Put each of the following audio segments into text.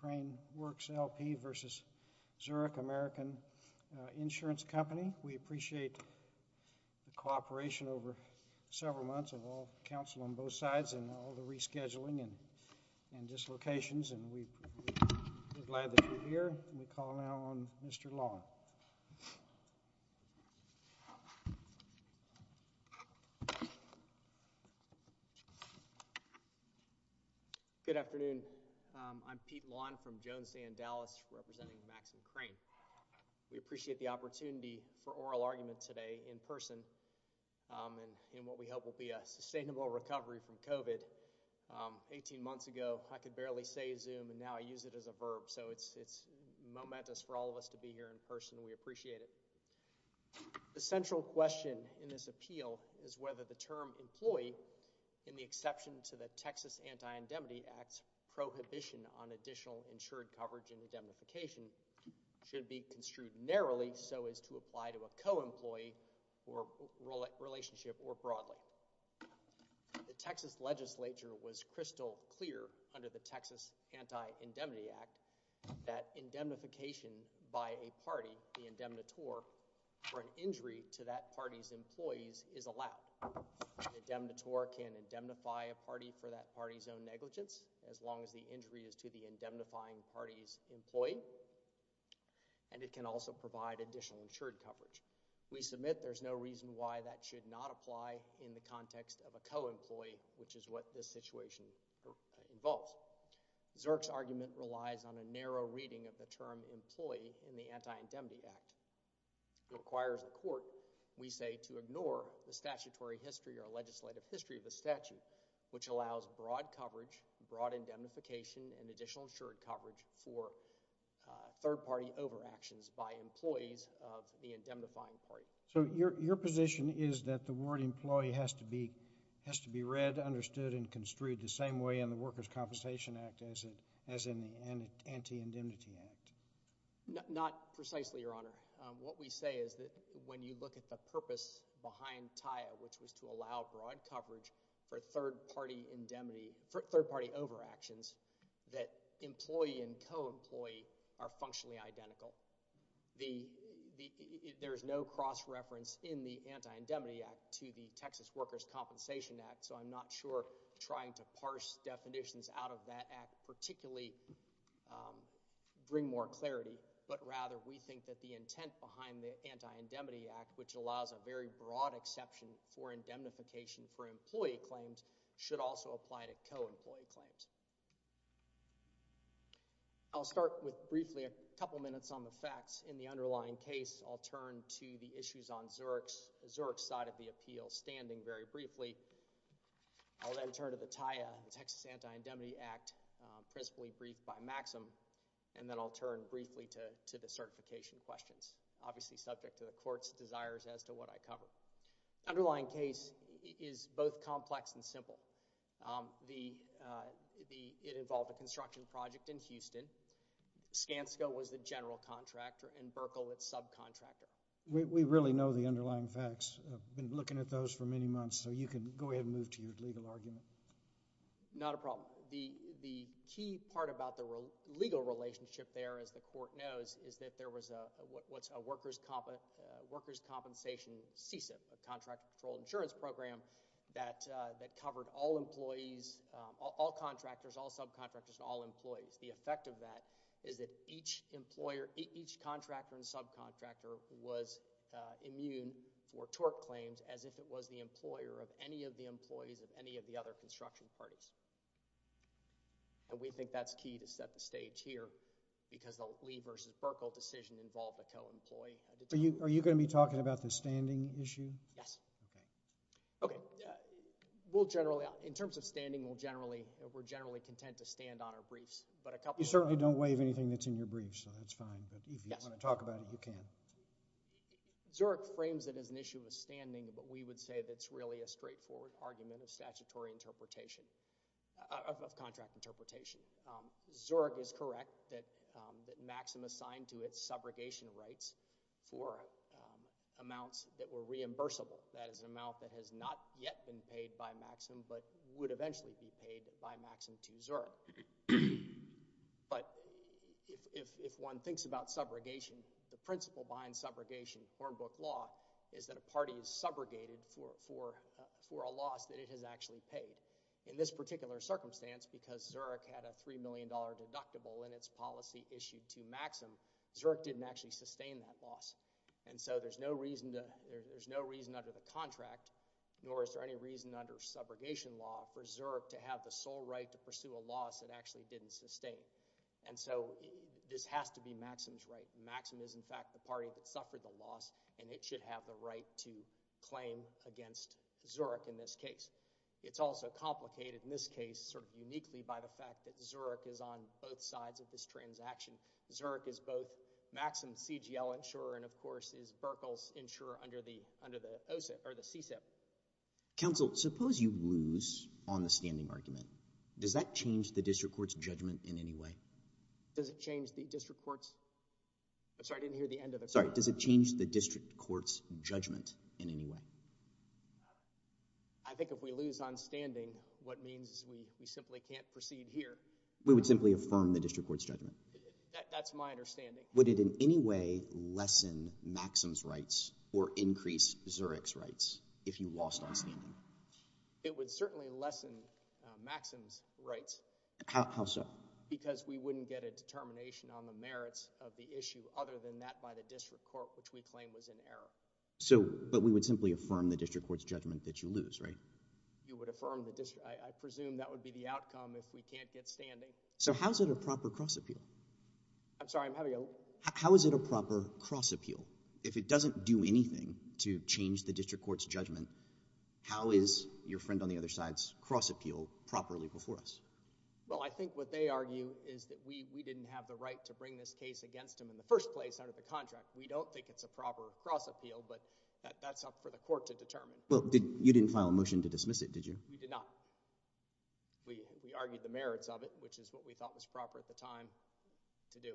Crane Works, L.P. v. Zurich American Insurance Company. We appreciate the cooperation over several months of all counsel on both sides and all the rescheduling and dislocations and we're glad that you're here and we call now on Mr. Long. Good afternoon. I'm Pete Long from Jones and Dallas representing Maxine Crane. We appreciate the opportunity for oral argument today in person and in what we hope will be a sustainable recovery from COVID 18 months ago, I could barely say zoom and now I use it as a verb. So it's it's momentous for all of us to be here in person and we appreciate it. The central question in this appeal is whether the term employee in the exception to the prohibition on additional insured coverage and indemnification should be construed narrowly so as to apply to a co-employee or relationship or broadly. The Texas legislature was crystal clear under the Texas Anti-Indemnity Act that indemnification by a party, the indemnitor, for an injury to that party's employees is allowed. The indemnitor can indemnify a party for that party's own negligence as long as the injury is to the indemnifying party's employee and it can also provide additional insured coverage. We submit there's no reason why that should not apply in the context of a co-employee which is what this situation involves. Zerk's argument relies on a narrow reading of the term employee in the Anti-Indemnity Act. It requires the court, we say, to ignore the statutory history or legislative history of the statute which allows broad coverage, broad indemnification, and additional insured coverage for third party overactions by employees of the indemnifying party. So your position is that the word employee has to be read, understood, and construed the same way in the Workers' Compensation Act as in the Anti-Indemnity Act? Not precisely, Your Honor. What we say is that when you look at the purpose behind TIA which was to allow broad coverage for third party indemnity, for third party overactions, that employee and co-employee are functionally identical. There's no cross-reference in the Anti-Indemnity Act to the Texas Workers' Compensation Act so I'm not sure trying to parse definitions out of that act particularly bring more clarity but rather we think that the intent behind the Anti-Indemnity Act which allows a very broad exception for indemnification for employee claims should also apply to co-employee claims. I'll start with briefly a couple minutes on the facts. In the underlying case, I'll turn to the issues on Zerk's side of the appeal standing very I'll then turn to the TIA, the Texas Anti-Indemnity Act, principally briefed by Maxim, and then I'll turn briefly to the certification questions, obviously subject to the court's desires as to what I cover. The underlying case is both complex and simple. It involved a construction project in Houston. Skanska was the general contractor and Burkle its subcontractor. We really know the underlying facts. I've been looking at those for many months so you can go ahead and move to your legal argument. Not a problem. The key part about the legal relationship there, as the court knows, is that there was what's a workers' compensation CSIP, a contractor controlled insurance program that covered all employees, all contractors, all subcontractors, and all employees. The effect of that is that each employer, each contractor and subcontractor was immune for tort claims as if it was the employer of any of the employees of any of the other construction parties. And we think that's key to set the stage here because the Lee versus Burkle decision involved a co-employee. Are you going to be talking about the standing issue? Yes. Okay. So, we'll generally, in terms of standing, we'll generally, we're generally content to stand on our briefs. But a couple... You certainly don't waive anything that's in your briefs, so that's fine. But if you want to talk about it, you can. Zurich frames it as an issue of standing, but we would say that's really a straightforward argument of statutory interpretation, of contract interpretation. Zurich is correct that Maxim assigned to its subrogation rights for amounts that were reimbursable. That is an amount that has not yet been paid by Maxim but would eventually be paid by Maxim to Zurich. But if one thinks about subrogation, the principle behind subrogation, form book law, is that a party is subrogated for a loss that it has actually paid. In this particular circumstance, because Zurich had a $3 million deductible in its policy issued to Maxim, Zurich didn't actually sustain that loss. And so there's no reason under the contract, nor is there any reason under subrogation law for Zurich to have the sole right to pursue a loss it actually didn't sustain. And so this has to be Maxim's right. Maxim is, in fact, the party that suffered the loss, and it should have the right to claim against Zurich in this case. It's also complicated in this case, sort of uniquely by the fact that Zurich is on both sides of this transaction. Zurich is both Maxim's CGL insurer and, of course, is Berkel's insurer under the CSIP. Counsel, suppose you lose on the standing argument. Does that change the district court's judgment in any way? Does it change the district court's? I'm sorry, I didn't hear the end of it. Sorry. Does it change the district court's judgment in any way? I think if we lose on standing, what means is we simply can't proceed here. We would simply affirm the district court's judgment. That's my understanding. Would it in any way lessen Maxim's rights or increase Zurich's rights if you lost on standing? It would certainly lessen Maxim's rights. How so? Because we wouldn't get a determination on the merits of the issue other than that by the district court, which we claim was in error. But we would simply affirm the district court's judgment that you lose, right? You would affirm the district. I presume that would be the outcome if we can't get standing. So how is it a proper cross-appeal? I'm sorry, I'm having a little— How is it a proper cross-appeal? If it doesn't do anything to change the district court's judgment, how is your friend on the other side's cross-appeal properly before us? Well, I think what they argue is that we didn't have the right to bring this case against him in the first place under the contract. We don't think it's a proper cross-appeal, but that's up for the court to determine. Well, you didn't file a motion to dismiss it, did you? We did not. We argued the merits of it, which is what we thought was proper at the time to do.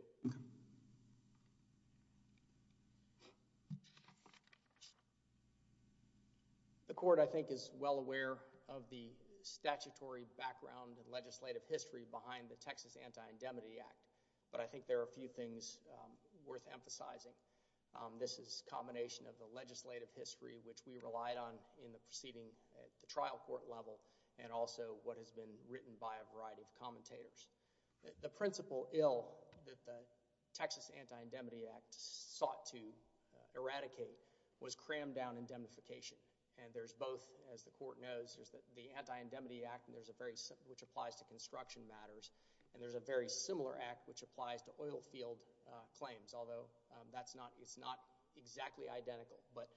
The court, I think, is well aware of the statutory background and legislative history behind the Texas Anti-Indemnity Act, but I think there are a few things worth emphasizing. This is a combination of the legislative history, which we relied on in the proceeding at the trial court level, and also what has been written by a variety of commentators. The principle ill that the Texas Anti-Indemnity Act sought to eradicate was crammed down indemnification, and there's both, as the court knows, there's the Anti-Indemnity Act, which applies to construction matters, and there's a very similar act which applies to oil field claims, although it's not exactly identical. But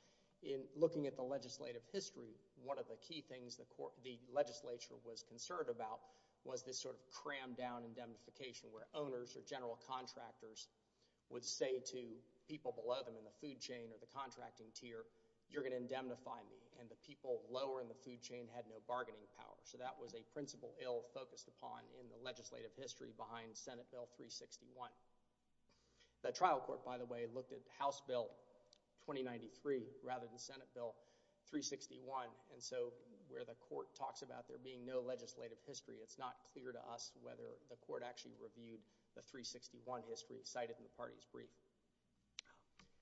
in looking at the legislative history, one of the key things the legislature was concerned about was this sort of crammed down indemnification, where owners or general contractors would say to people below them in the food chain or the contracting tier, you're going to indemnify me, and the people lower in the food chain had no bargaining power. So that was a principle ill focused upon in the legislative history behind Senate Bill 361. The trial court, by the way, looked at House Bill 2093 rather than Senate Bill 361, and so where the court talks about there being no legislative history, it's not clear to us whether the court actually reviewed the 361 history cited in the party's brief.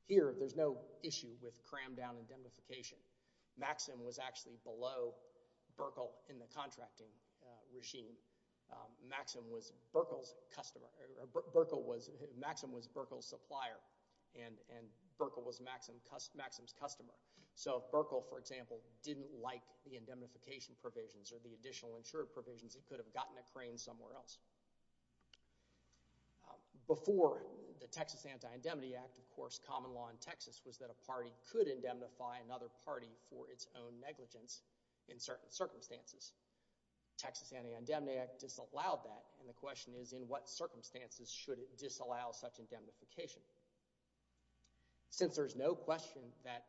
Here there's no issue with crammed down indemnification. Maxim was actually below Burkle in the contracting regime. Maxim was Burkle's supplier, and Burkle was Maxim's customer. So if Burkle, for example, didn't like the indemnification provisions or the additional insured provisions, he could have gotten a crane somewhere else. Before the Texas Anti-Indemnity Act, of course, common law in Texas was that a party could its own negligence in certain circumstances. Texas Anti-Indemnity Act disallowed that, and the question is, in what circumstances should it disallow such indemnification? Since there's no question that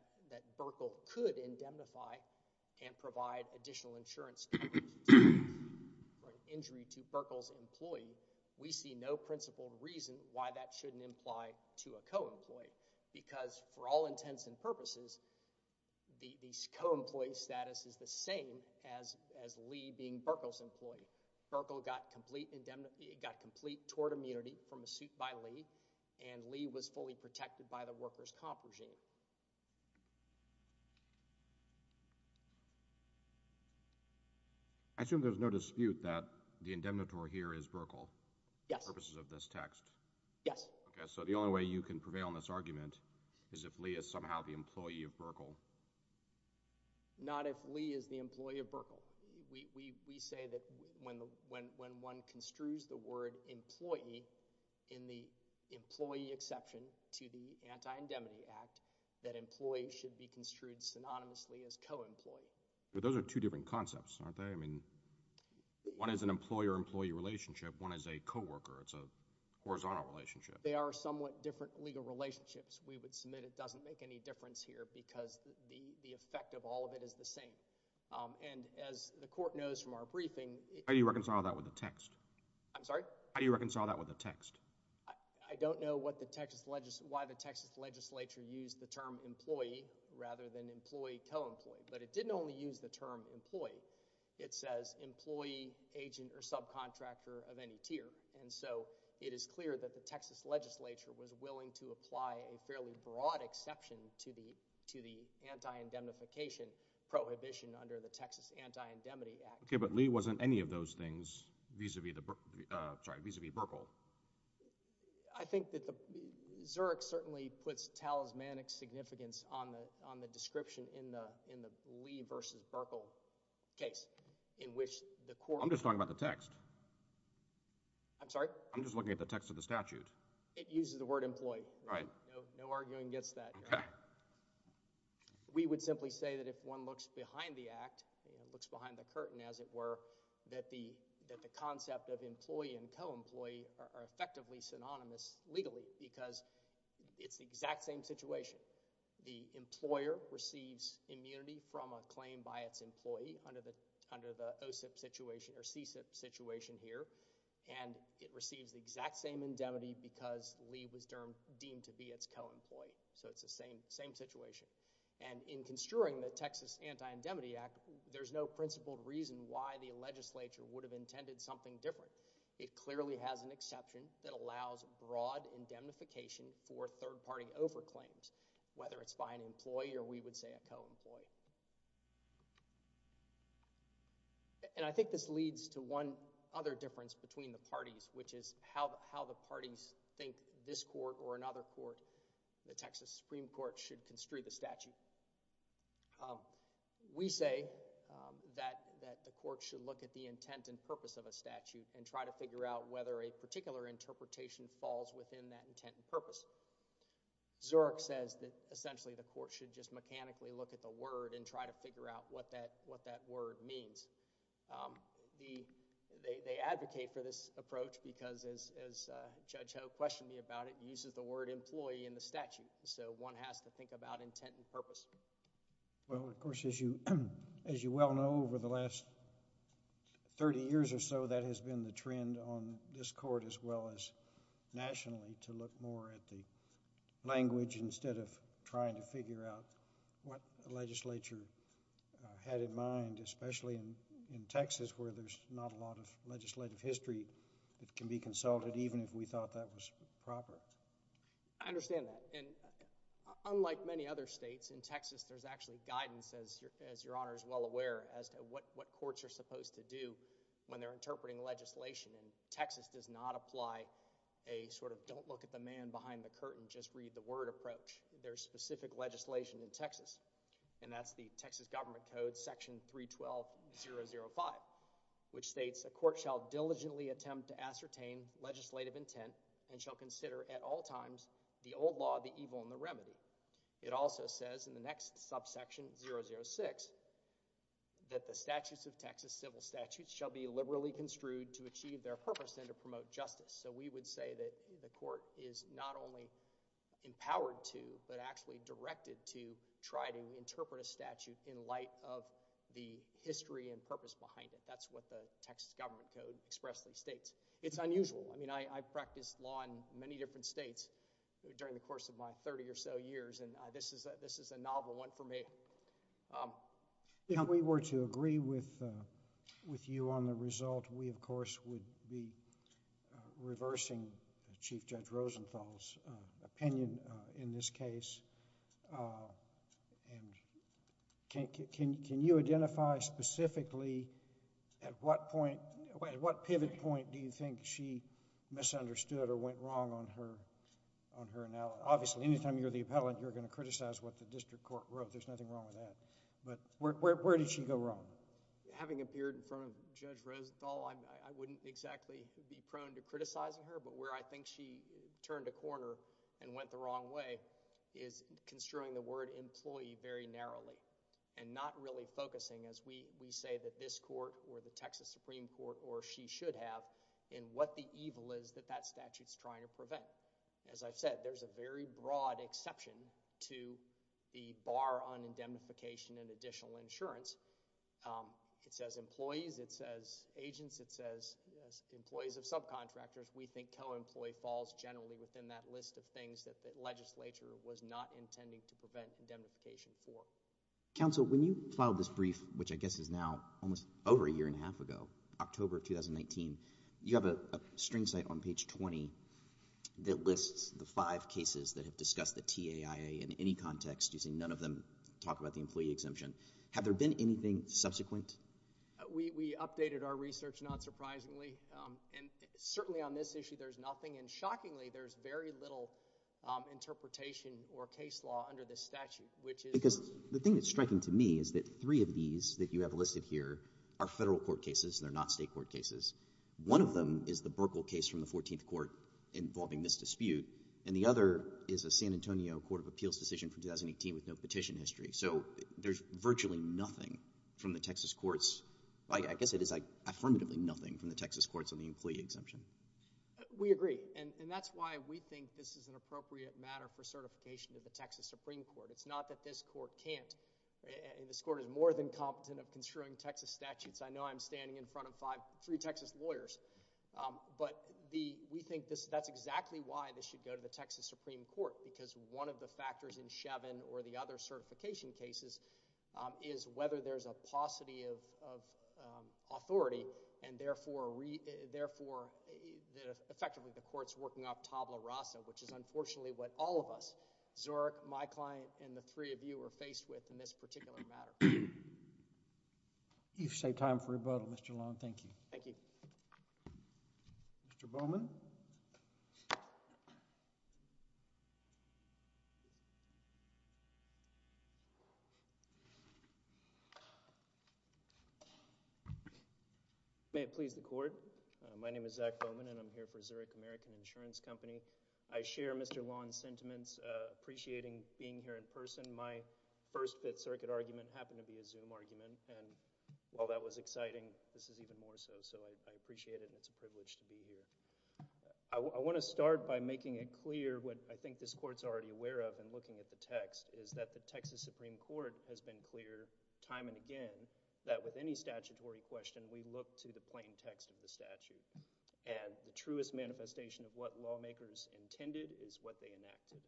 Burkle could indemnify and provide additional insurance for an injury to Burkle's employee, we see no principled reason why that shouldn't imply to a co-employee, because for all intents and purposes, the co-employee status is the same as Lee being Burkle's employee. Burkle got complete tort immunity from a suit by Lee, and Lee was fully protected by the workers' comp regime. I assume there's no dispute that the indemnitory here is Burkle? Yes. For purposes of this text? Yes. Okay. So the only way you can prevail in this argument is if Lee is somehow the employee of Burkle? Not if Lee is the employee of Burkle. We say that when one construes the word employee in the employee exception to the Anti-Indemnity Act, that employee should be construed synonymously as co-employee. But those are two different concepts, aren't they? I mean, one is an employer-employee relationship, one is a co-worker. It's a horizontal relationship. They are somewhat different legal relationships. We would submit it doesn't make any difference here because the effect of all of it is the same. And as the Court knows from our briefing... How do you reconcile that with the text? I'm sorry? How do you reconcile that with the text? I don't know what the Texas... why the Texas legislature used the term employee rather than employee-co-employee, but it didn't only use the term employee. It says employee, agent, or subcontractor of any tier. And so, it is clear that the Texas legislature was willing to apply a fairly broad exception to the Anti-Indemnification Prohibition under the Texas Anti-Indemnity Act. Okay, but Lee wasn't any of those things vis-a-vis Burkle. I think that the... Zurich certainly puts talismanic significance on the description in the Lee versus Burkle case in which the Court... I'm just talking about the text. I'm sorry? I'm just looking at the text of the statute. It uses the word employee. Right. No arguing against that here. Okay. We would simply say that if one looks behind the Act, looks behind the curtain as it were, that the concept of employee and co-employee are effectively synonymous legally because it's the exact same situation. The employer receives immunity from a claim by its employee under the OSIP situation or CSIP situation here, and it receives the exact same indemnity because Lee was deemed to be its co-employee. So, it's the same situation. And in construing the Texas Anti-Indemnity Act, there's no principled reason why the legislature would have intended something different. It clearly has an exception that allows broad indemnification for third-party overclaims, whether it's by an employee or we would say a co-employee. And I think this leads to one other difference between the parties, which is how the parties think this court or another court, the Texas Supreme Court, should construe the statute. We say that the court should look at the intent and purpose of a statute and try to figure out whether a particular interpretation falls within that intent and purpose. Zurich says that essentially the court should just mechanically look at the word and try to figure out what that word means. They advocate for this approach because as Judge Ho questioned me about it, it uses the word employee in the statute. So, one has to think about intent and purpose. Well, of course, as you well know, over the last 30 years or so, that has been the trend on this court as well as nationally to look more at the language instead of trying to figure out what the legislature had in mind, especially in Texas where there's not a lot of legislative history that can be consulted, even if we thought that was proper. I understand that. And unlike many other states, in Texas there's actually guidance, as Your Honor is well aware, as to what courts are supposed to do when they're interpreting legislation, and Texas does not apply a sort of don't look at the man behind the curtain, just read the word approach. There's specific legislation in Texas, and that's the Texas Government Code, Section 312.005, which states, a court shall diligently attempt to ascertain legislative intent and shall consider at all times the old law, the evil, and the remedy. It also says in the next subsection, 006, that the statutes of Texas, civil statutes, shall be liberally construed to achieve their purpose and to promote justice. So, we would say that the court is not only empowered to, but actually directed to try to interpret a statute in light of the history and purpose behind it. That's what the Texas Government Code expressly states. It's unusual. I mean, I've practiced law in many different states during the course of my thirty or so years, and this is a novel one for me. Um... If we were to agree with you on the result, we of course would be reversing Chief Judge Rosenthal's opinion in this case, and can you identify specifically at what pivot point do you think she misunderstood or went wrong on her... on her... now, obviously, any time you're the appellant, you're going to criticize what the district court wrote. There's nothing wrong with that, but where did she go wrong? Having appeared in front of Judge Rosenthal, I wouldn't exactly be prone to criticizing her, but where I think she turned a corner and went the wrong way is construing the word employee very narrowly and not really focusing as we say that this court or the Texas Supreme Court or she should have in what the evil is that that statute's trying to prevent. As I've said, there's a very broad exception to the bar on indemnification and additional insurance. Um, it says employees, it says agents, it says employees of subcontractors. We think co-employee falls generally within that list of things that the legislature was not intending to prevent indemnification for. Counsel, when you filed this brief, which I guess is now almost over a year and a half ago, October of 2019, you have a string site on page 20 that lists the five cases that have discussed the TAIA in any context using none of them talk about the employee exemption. Have there been anything subsequent? We updated our research, not surprisingly, and certainly on this issue, there's nothing and shockingly, there's very little interpretation or case law under this statute, which is because the thing that's striking to me is that three of these that you have listed here are federal court cases and they're not state court cases. One of them is the Burkle case from the 14th Court involving this dispute, and the other is a San Antonio Court of Appeals decision from 2018 with no petition history. So there's virtually nothing from the Texas courts, I guess it is affirmatively nothing from the Texas courts on the employee exemption. We agree, and that's why we think this is an appropriate matter for certification to the Texas Supreme Court. It's not that this court can't, this court is more than competent of construing Texas statutes. I know I'm standing in front of three Texas lawyers, but we think that's exactly why this should go to the Texas Supreme Court, because one of the factors in Shevin or the other certification cases is whether there's a paucity of authority, and therefore, effectively the court's working off tabula rasa, which is unfortunately what all of us, Zurich, my client, and the three of you are faced with in this particular matter. You've saved time for rebuttal, Mr. Long, thank you. Thank you. Mr. Bowman? May it please the Court, my name is Zach Bowman, and I'm here for Zurich American Insurance Company. I share Mr. Long's sentiments, appreciating being here in person. My first Fifth Circuit argument happened to be a Zoom argument, and while that was exciting, this is even more so, so I appreciate it, and it's a privilege to be here. I want to start by making it clear what I think this court's already aware of in looking at the text, is that the Texas Supreme Court has been clear time and again that with any statutory question, we look to the plain text of the statute, and the truest manifestation of what lawmakers intended is what they enacted.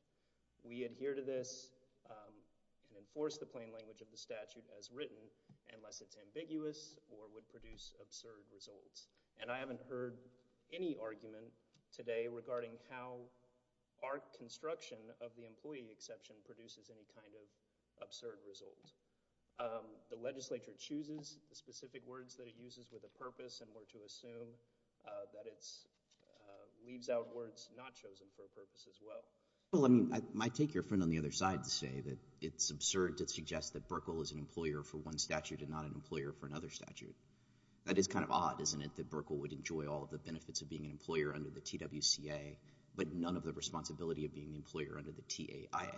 We adhere to this, and enforce the plain language of the statute as written, unless it's ambiguous or would produce absurd results. And I haven't heard any argument today regarding how our construction of the employee exception produces any kind of absurd result. The legislature chooses the specific words that it uses with a purpose, and we're to assume that it leaves out words not chosen for a purpose as well. Well, I mean, I might take your friend on the other side to say that it's absurd to suggest that Burkle is an employer for one statute and not an employer for another statute. That is kind of odd, isn't it, that Burkle would enjoy all of the benefits of being an employer under the TWCA, but none of the responsibility of being an employer under the TAIA?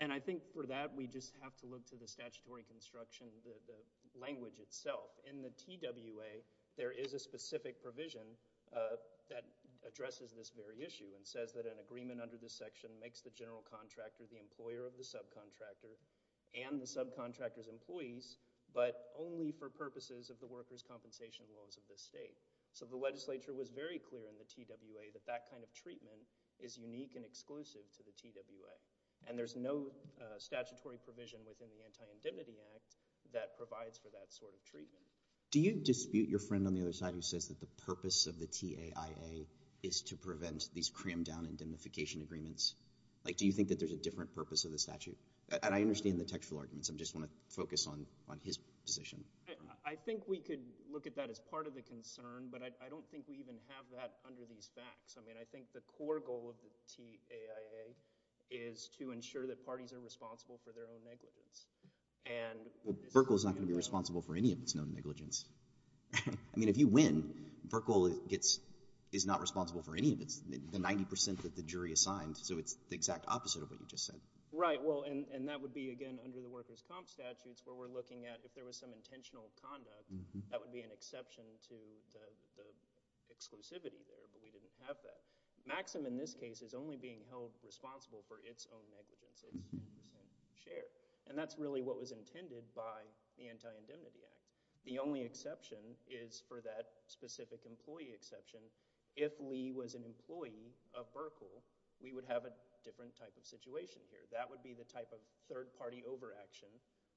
And I think for that, we just have to look to the statutory construction, the language itself. In the TWA, there is a specific provision that addresses this very issue, and says that an agreement under this section makes the general contractor the employer of the subcontractor and the subcontractor's employees, but only for purposes of the workers' compensation laws of the state. So the legislature was very clear in the TWA that that kind of treatment is unique and exclusive to the TWA, and there's no statutory provision within the Anti-Indemnity Act that provides for that sort of treatment. Do you dispute your friend on the other side who says that the purpose of the TAIA is to make unification agreements? Like, do you think that there's a different purpose of the statute? And I understand the textual arguments. I just want to focus on his position. I think we could look at that as part of the concern, but I don't think we even have that under these facts. I mean, I think the core goal of the TAIA is to ensure that parties are responsible for their own negligence. And— Well, Burkle is not going to be responsible for any of its known negligence. I mean, if you win, Burkle gets—is not responsible for any of its—the 90 percent that the jury assigned. So it's the exact opposite of what you just said. Right. Well, and that would be, again, under the workers' comp statutes where we're looking at if there was some intentional conduct, that would be an exception to the exclusivity there. But we didn't have that. Maxim, in this case, is only being held responsible for its own negligence, its 90 percent share. And that's really what was intended by the Anti-Indemnity Act. The only exception is for that specific employee exception. If Lee was an employee of Burkle, we would have a different type of situation here. That would be the type of third-party overaction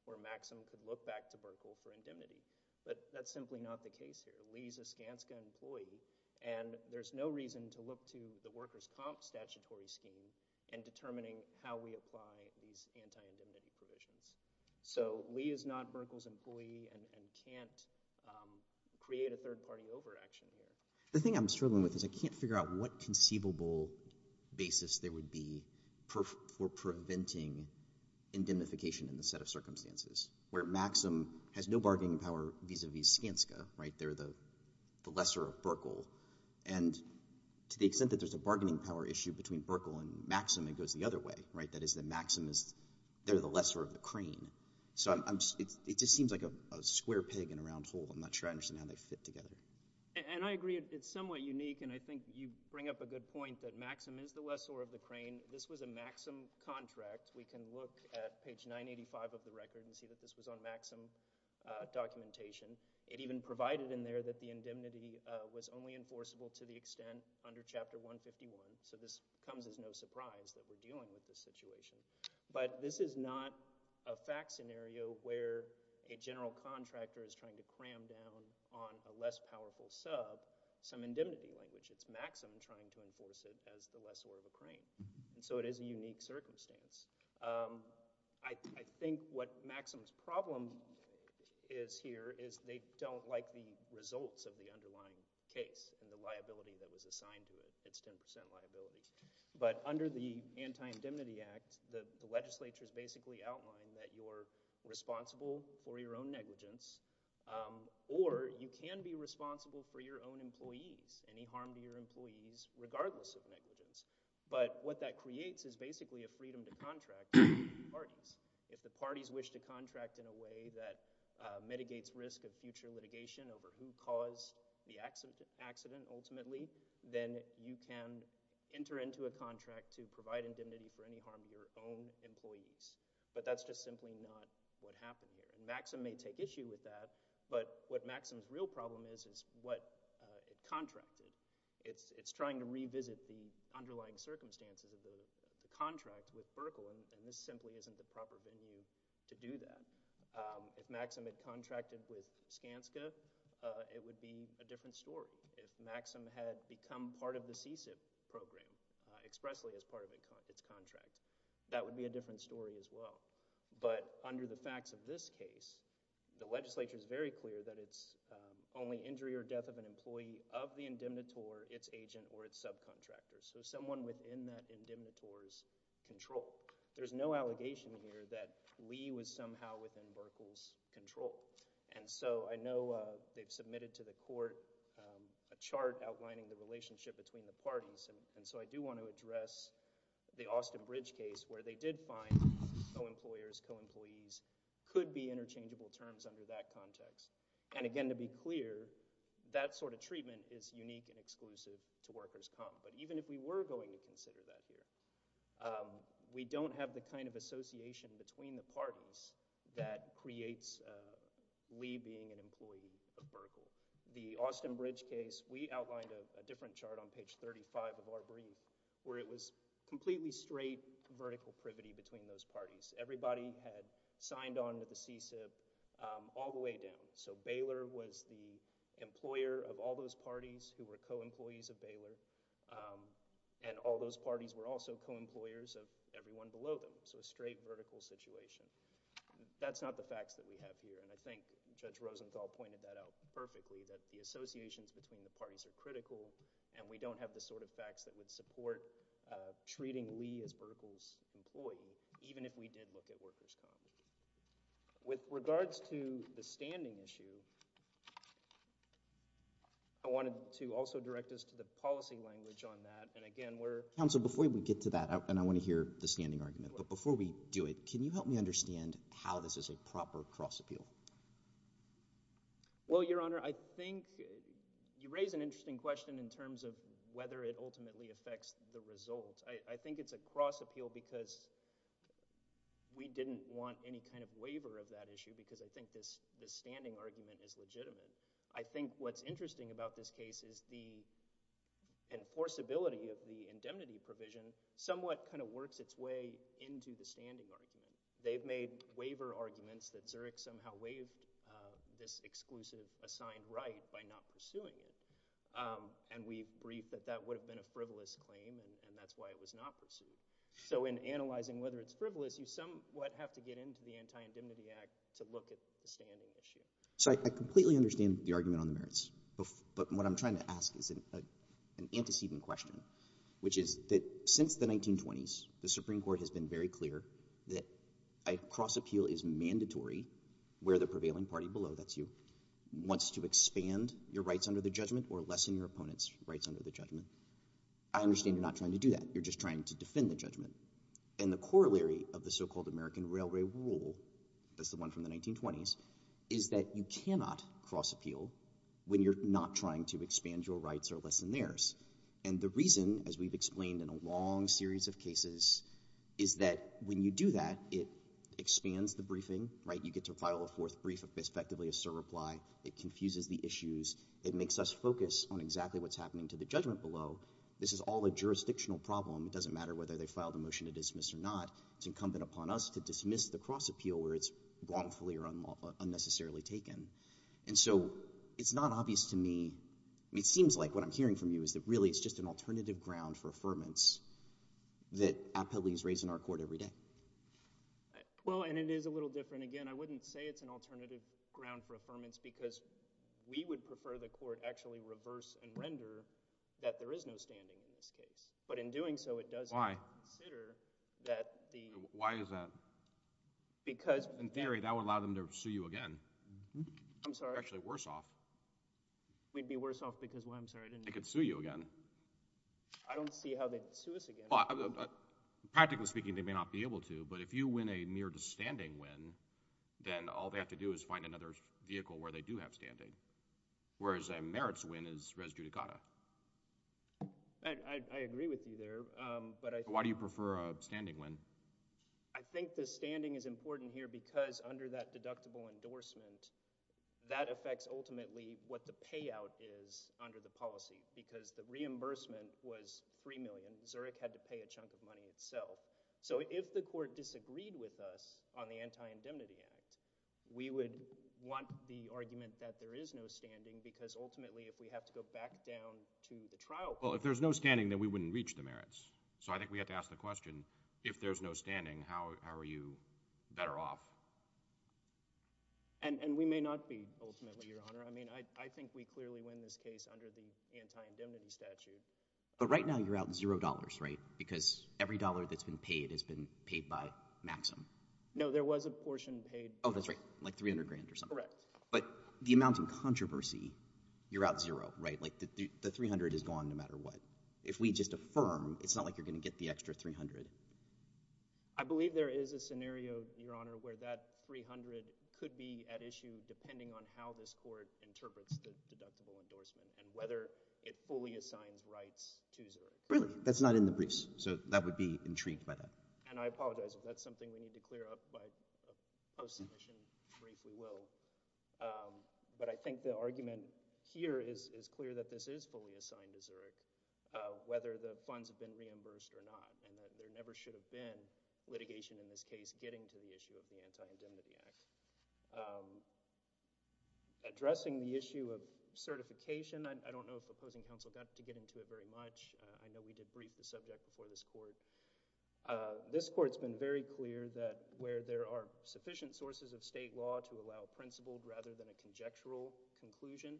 where Maxim could look back to Burkle for indemnity. But that's simply not the case here. Lee is a Skanska employee, and there's no reason to look to the workers' comp statutory scheme in determining how we apply these anti-indemnity provisions. So Lee is not Burkle's employee and can't create a third-party overaction here. The thing I'm struggling with is I can't figure out what conceivable basis there would be for preventing indemnification in this set of circumstances, where Maxim has no bargaining power vis-a-vis Skanska, right? They're the lesser of Burkle. And to the extent that there's a bargaining power issue between Burkle and Maxim, it goes the other way, right? That is that Maxim is, they're the lesser of the crane. So it just seems like a square pig in a round hole. I'm not sure I understand how they fit together. And I agree, it's somewhat unique, and I think you bring up a good point that Maxim is the lesser of the crane. This was a Maxim contract. We can look at page 985 of the record and see that this was on Maxim documentation. It even provided in there that the indemnity was only enforceable to the extent under Chapter 151. So this comes as no surprise that we're dealing with this situation. But this is not a fact scenario where a general contractor is trying to cram down on a less powerful sub some indemnity language. It's Maxim trying to enforce it as the lesser of a crane. So it is a unique circumstance. I think what Maxim's problem is here is they don't like the results of the underlying case and the liability that was assigned to it, its 10% liability. But under the Anti-Indemnity Act, the legislature's basically outlined that you're responsible for your own negligence, or you can be responsible for your own employees, any harm to your employees regardless of negligence. But what that creates is basically a freedom to contract with the parties. If the parties wish to contract in a way that mitigates risk of future litigation over who caused the accident ultimately, then you can enter into a contract to provide indemnity for any harm to your own employees. But that's just simply not what happened here. And Maxim may take issue with that. But what Maxim's real problem is is what it contracted. It's trying to revisit the underlying circumstances of the contract with Buerkle, and this simply isn't the proper venue to do that. If Maxim had contracted with Skanska, it would be a different story. If Maxim had become part of the CSIP program expressly as part of its contract, that would be a different story as well. But under the facts of this case, the legislature's very clear that it's only injury or death of an employee of the indemnitor, its agent, or its subcontractor. So someone within that indemnitor's control. There's no allegation here that Lee was somehow within Buerkle's control. And so I know they've submitted to the court a chart outlining the relationship between the parties. And so I do want to address the Austin Bridge case where they did find co-employers, co-employees could be interchangeable terms under that context. And again, to be clear, that sort of treatment is unique and exclusive to workers' comp. But even if we were going to consider that here, we don't have the kind of association between the parties that creates Lee being an employee of Buerkle. The Austin Bridge case, we outlined a different chart on page 35 of our brief where it was completely straight vertical privity between those parties. Everybody had signed on with the CSIP all the way down. So Baylor was the employer of all those parties who were co-employees of Baylor. And all those parties were also co-employers of everyone below them. So a straight vertical situation. That's not the facts that we have here. And I think Judge Rosenthal pointed that out perfectly, that the associations between the parties are critical and we don't have the sort of facts that would support treating Lee as Buerkle's employee, even if we did look at workers' comp. With regards to the standing issue, I wanted to also direct us to the policy language on that. And again, we're... Counsel, before we get to that, and I want to hear the standing argument, but before we do it, can you help me understand how this is a proper cross-appeal? Well, Your Honor, I think you raise an interesting question in terms of whether it ultimately affects the result. I think it's a cross-appeal because we didn't want any kind of waiver of that issue because I think this standing argument is legitimate. I think what's interesting about this case is the enforceability of the indemnity provision somewhat kind of works its way into the standing argument. They've made waiver arguments that Zurich somehow waived this exclusive assigned right by not pursuing it. And we briefed that that would have been a frivolous claim, and that's why it was not pursued. So in analyzing whether it's frivolous, you somewhat have to get into the Anti-Indemnity Act to look at the standing issue. So I completely understand the argument on the merits, but what I'm trying to ask is an antecedent question, which is that since the 1920s, the Supreme Court has been very clear that a cross-appeal is mandatory where the prevailing party below, that's you, wants to expand your rights under the judgment or lessen your opponent's rights under the judgment. I understand you're not trying to do that, you're just trying to defend the judgment. And the corollary of the so-called American Railway Rule, that's the one from the 1920s, is that you cannot cross-appeal when you're not trying to expand your rights or lessen theirs. And the reason, as we've explained in a long series of cases, is that when you do that, it expands the briefing, right? It gets a final fourth brief, effectively a surreply, it confuses the issues, it makes us focus on exactly what's happening to the judgment below. This is all a jurisdictional problem, it doesn't matter whether they file the motion to dismiss or not, it's incumbent upon us to dismiss the cross-appeal where it's wrongfully or unnecessarily taken. And so it's not obvious to me, it seems like what I'm hearing from you is that really it's just an alternative ground for affirmance that appellees raise in our Court every day. Well, and it is a little different. Again, I wouldn't say it's an alternative ground for affirmance because we would prefer the Court actually reverse and render that there is no standing in this case. But in doing so, it does not consider that the— Why is that? Because— In theory, that would allow them to sue you again. I'm sorry. You're actually worse off. We'd be worse off because, well, I'm sorry, I didn't— They could sue you again. I don't see how they'd sue us again. Practically speaking, they may not be able to, but if you win a mere standing win, then all they have to do is find another vehicle where they do have standing, whereas a merits win is res judicata. I agree with you there, but I think— Why do you prefer a standing win? I think the standing is important here because under that deductible endorsement, that affects ultimately what the payout is under the policy because the reimbursement was $3 million. Zurich had to pay a chunk of money itself. So, if the Court disagreed with us on the Anti-Indemnity Act, we would want the argument that there is no standing because ultimately, if we have to go back down to the trial— Well, if there's no standing, then we wouldn't reach the merits. So, I think we have to ask the question, if there's no standing, how are you better off? And we may not be ultimately, Your Honor. I mean, I think we clearly win this case under the Anti-Indemnity Statute. But right now, you're out $0, right? Because every dollar that's been paid has been paid by Maxim. No, there was a portion paid. Oh, that's right, like $300,000 or something. Correct. But the amount in controversy, you're out $0, right? Like, the $300,000 is gone no matter what. If we just affirm, it's not like you're going to get the extra $300,000. I believe there is a scenario, Your Honor, where that $300,000 could be at issue depending on how this court interprets the deductible endorsement and whether it fully assigns rights to Zurich. Really? That's not in the briefs. So, that would be intrigued by that. And I apologize if that's something we need to clear up by post-submission. Briefly, we will. But I think the argument here is clear that this is fully assigned to Zurich, whether the funds have been reimbursed or not. And that there never should have been litigation in this case getting to the issue of the Anti-Indemnity Act. Addressing the issue of certification, I don't know if opposing counsel got to get into it very much. I know we did brief the subject before this court. This court's been very clear that where there are sufficient sources of state law to allow principled rather than a conjectural conclusion,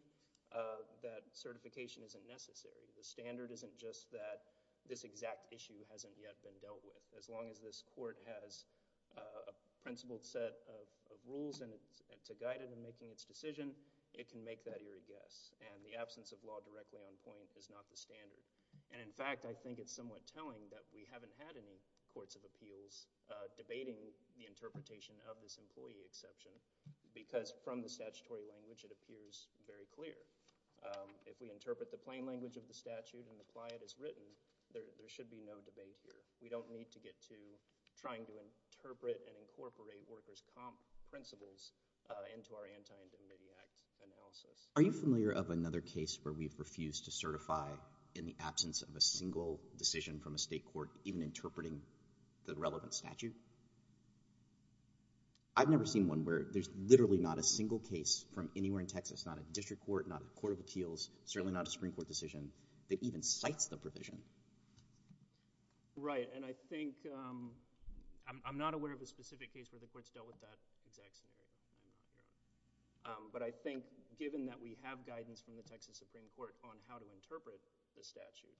that certification isn't necessary. The standard isn't just that this exact issue hasn't yet been dealt with. As long as this court has a principled set of rules to guide it in making its decision, it can make that eerie guess. And the absence of law directly on point is not the standard. And in fact, I think it's somewhat telling that we haven't had any courts of appeals debating the interpretation of this employee exception. Because from the statutory language, it appears very clear. If we interpret the plain language of the statute and apply it as written, there should be no debate here. We don't need to get to trying to interpret and incorporate workers' comp principles into our Anti-Indemnity Act analysis. Are you familiar of another case where we've refused to certify in the absence of a single decision from a state court even interpreting the relevant statute? I've never seen one where there's literally not a single case from anywhere in Texas, not a district court, not a court of appeals, certainly not a Supreme Court decision, that even cites the provision. Right. And I think I'm not aware of a specific case where the court's dealt with that exact scenario. But I think given that we have guidance from the Texas Supreme Court on how to interpret the statute,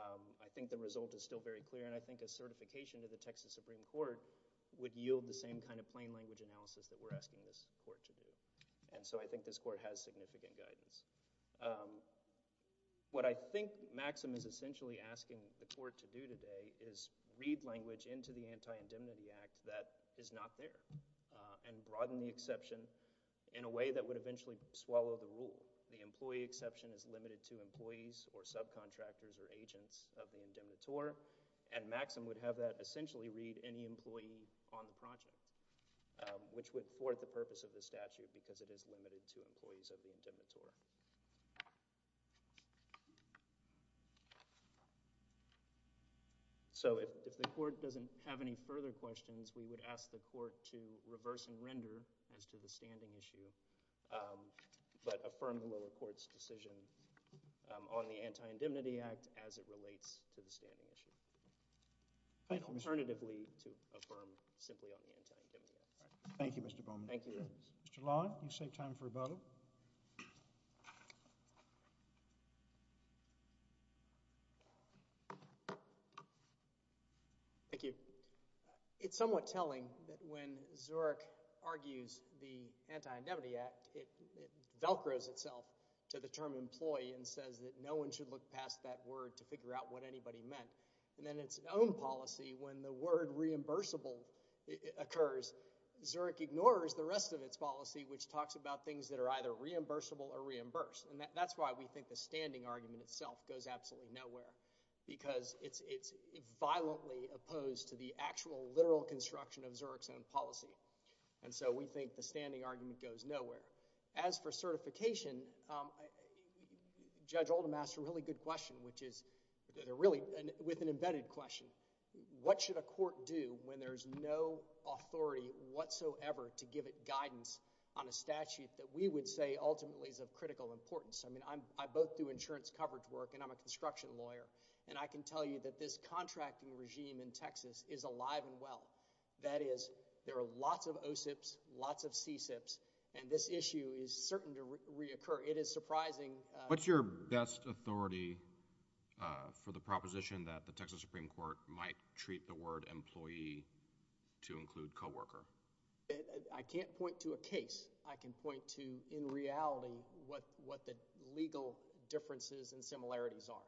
I think the result is still very clear. And I think a certification to the Texas Supreme Court would yield the same kind of plain language analysis that we're asking this court to do. And so I think this court has significant guidance. What I think Maxim is essentially asking the court to do today is read language into the Anti-Indemnity Act that is not there and broaden the exception in a way that would eventually swallow the rule. The employee exception is limited to employees or subcontractors or agents of the indemnitore. And Maxim would have that essentially read any employee on the project, which would thwart the purpose of the statute because it is limited to employees of the indemnitore. So if the court doesn't have any further questions, we would ask the court to reverse and render as to the standing issue, but affirm the lower court's decision on the Anti-Indemnity Act as it relates to the standing issue. Alternatively, to affirm simply on the Anti-Indemnity Act. Thank you, Mr. Bowman. Thank you. Mr. Long, you saved time for a bottle. Thank you. It's somewhat telling that when Zurich argues the Anti-Indemnity Act, it Velcros itself to the term employee and says that no one should look past that word to figure out what anybody meant. And then its own policy, when the word reimbursable occurs, Zurich ignores the rest of its policy, which talks about things that are either reimbursable or reimbursed. And that's why we think the standing argument itself goes absolutely nowhere. Because it's violently opposed to the actual literal construction of Zurich's own policy. And so we think the standing argument goes nowhere. As for certification, Judge Oldham asked a really good question, which is really with an embedded question. What should a court do when there's no authority whatsoever to give it guidance on a statute that we would say ultimately is of critical importance? I mean, I both do insurance coverage work and I'm a construction lawyer. And I can tell you that this contracting regime in Texas is alive and well. That is, there are lots of OSIPs, lots of CSIPs, and this issue is certain to reoccur. It is surprising. What's your best authority for the proposition that the Texas Supreme Court might treat the word employee to include coworker? I can't point to a case. I can point to, in reality, what the legal differences and similarities are.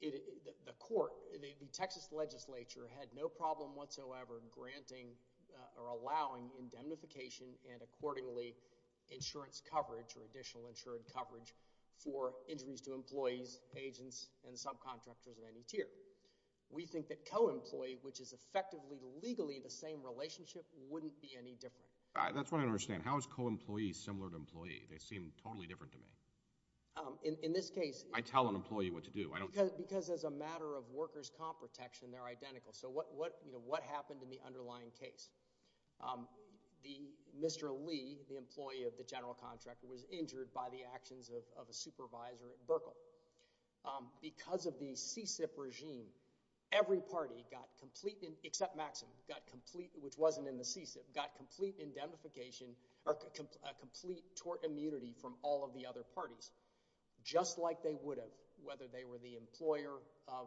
The court, the Texas legislature, had no problem whatsoever granting or allowing indemnification and accordingly insurance coverage or additional insurance coverage for injuries to employees, agents, and subcontractors of any tier. We think that co-employee, which is effectively legally the same relationship, wouldn't be any different. That's what I don't understand. How is co-employee similar to employee? They seem totally different to me. In this case... I tell an employee what to do. Because as a matter of workers' comp protection, they're identical. So what happened in the underlying case? Mr. Lee, the employee of the general contractor, was injured by the actions of a supervisor at Buerkle. Because of the CSIP regime, every party got complete, except Maxim, which wasn't in the CSIP, got complete indemnification or complete tort immunity from all of the other parties, just like they would have, whether they were the employer of...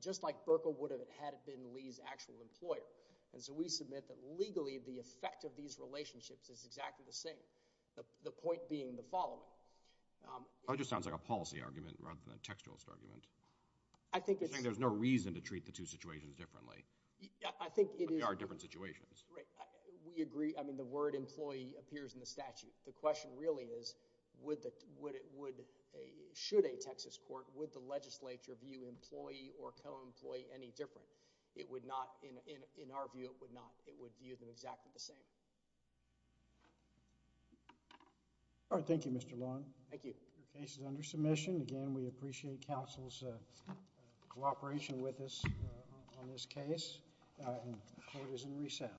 just like Buerkle would have had been Lee's actual employer. And so we submit that legally, the effect of these relationships is exactly the same. The point being the following... That just sounds like a policy argument rather than a textualist argument. I think it's... You're saying there's no reason to treat the two situations differently. I think it is... But they are different situations. Right. We agree. I mean, the word employee appears in the statute. The question really is, would the... would... should a Texas court, would the legislature view employee or co-employee any different? It would not... In our view, it would not. It would view them exactly the same. All right. Thank you, Mr. Long. Thank you. The case is under submission. Again, we appreciate counsel's cooperation with us on this case. The court is in recess.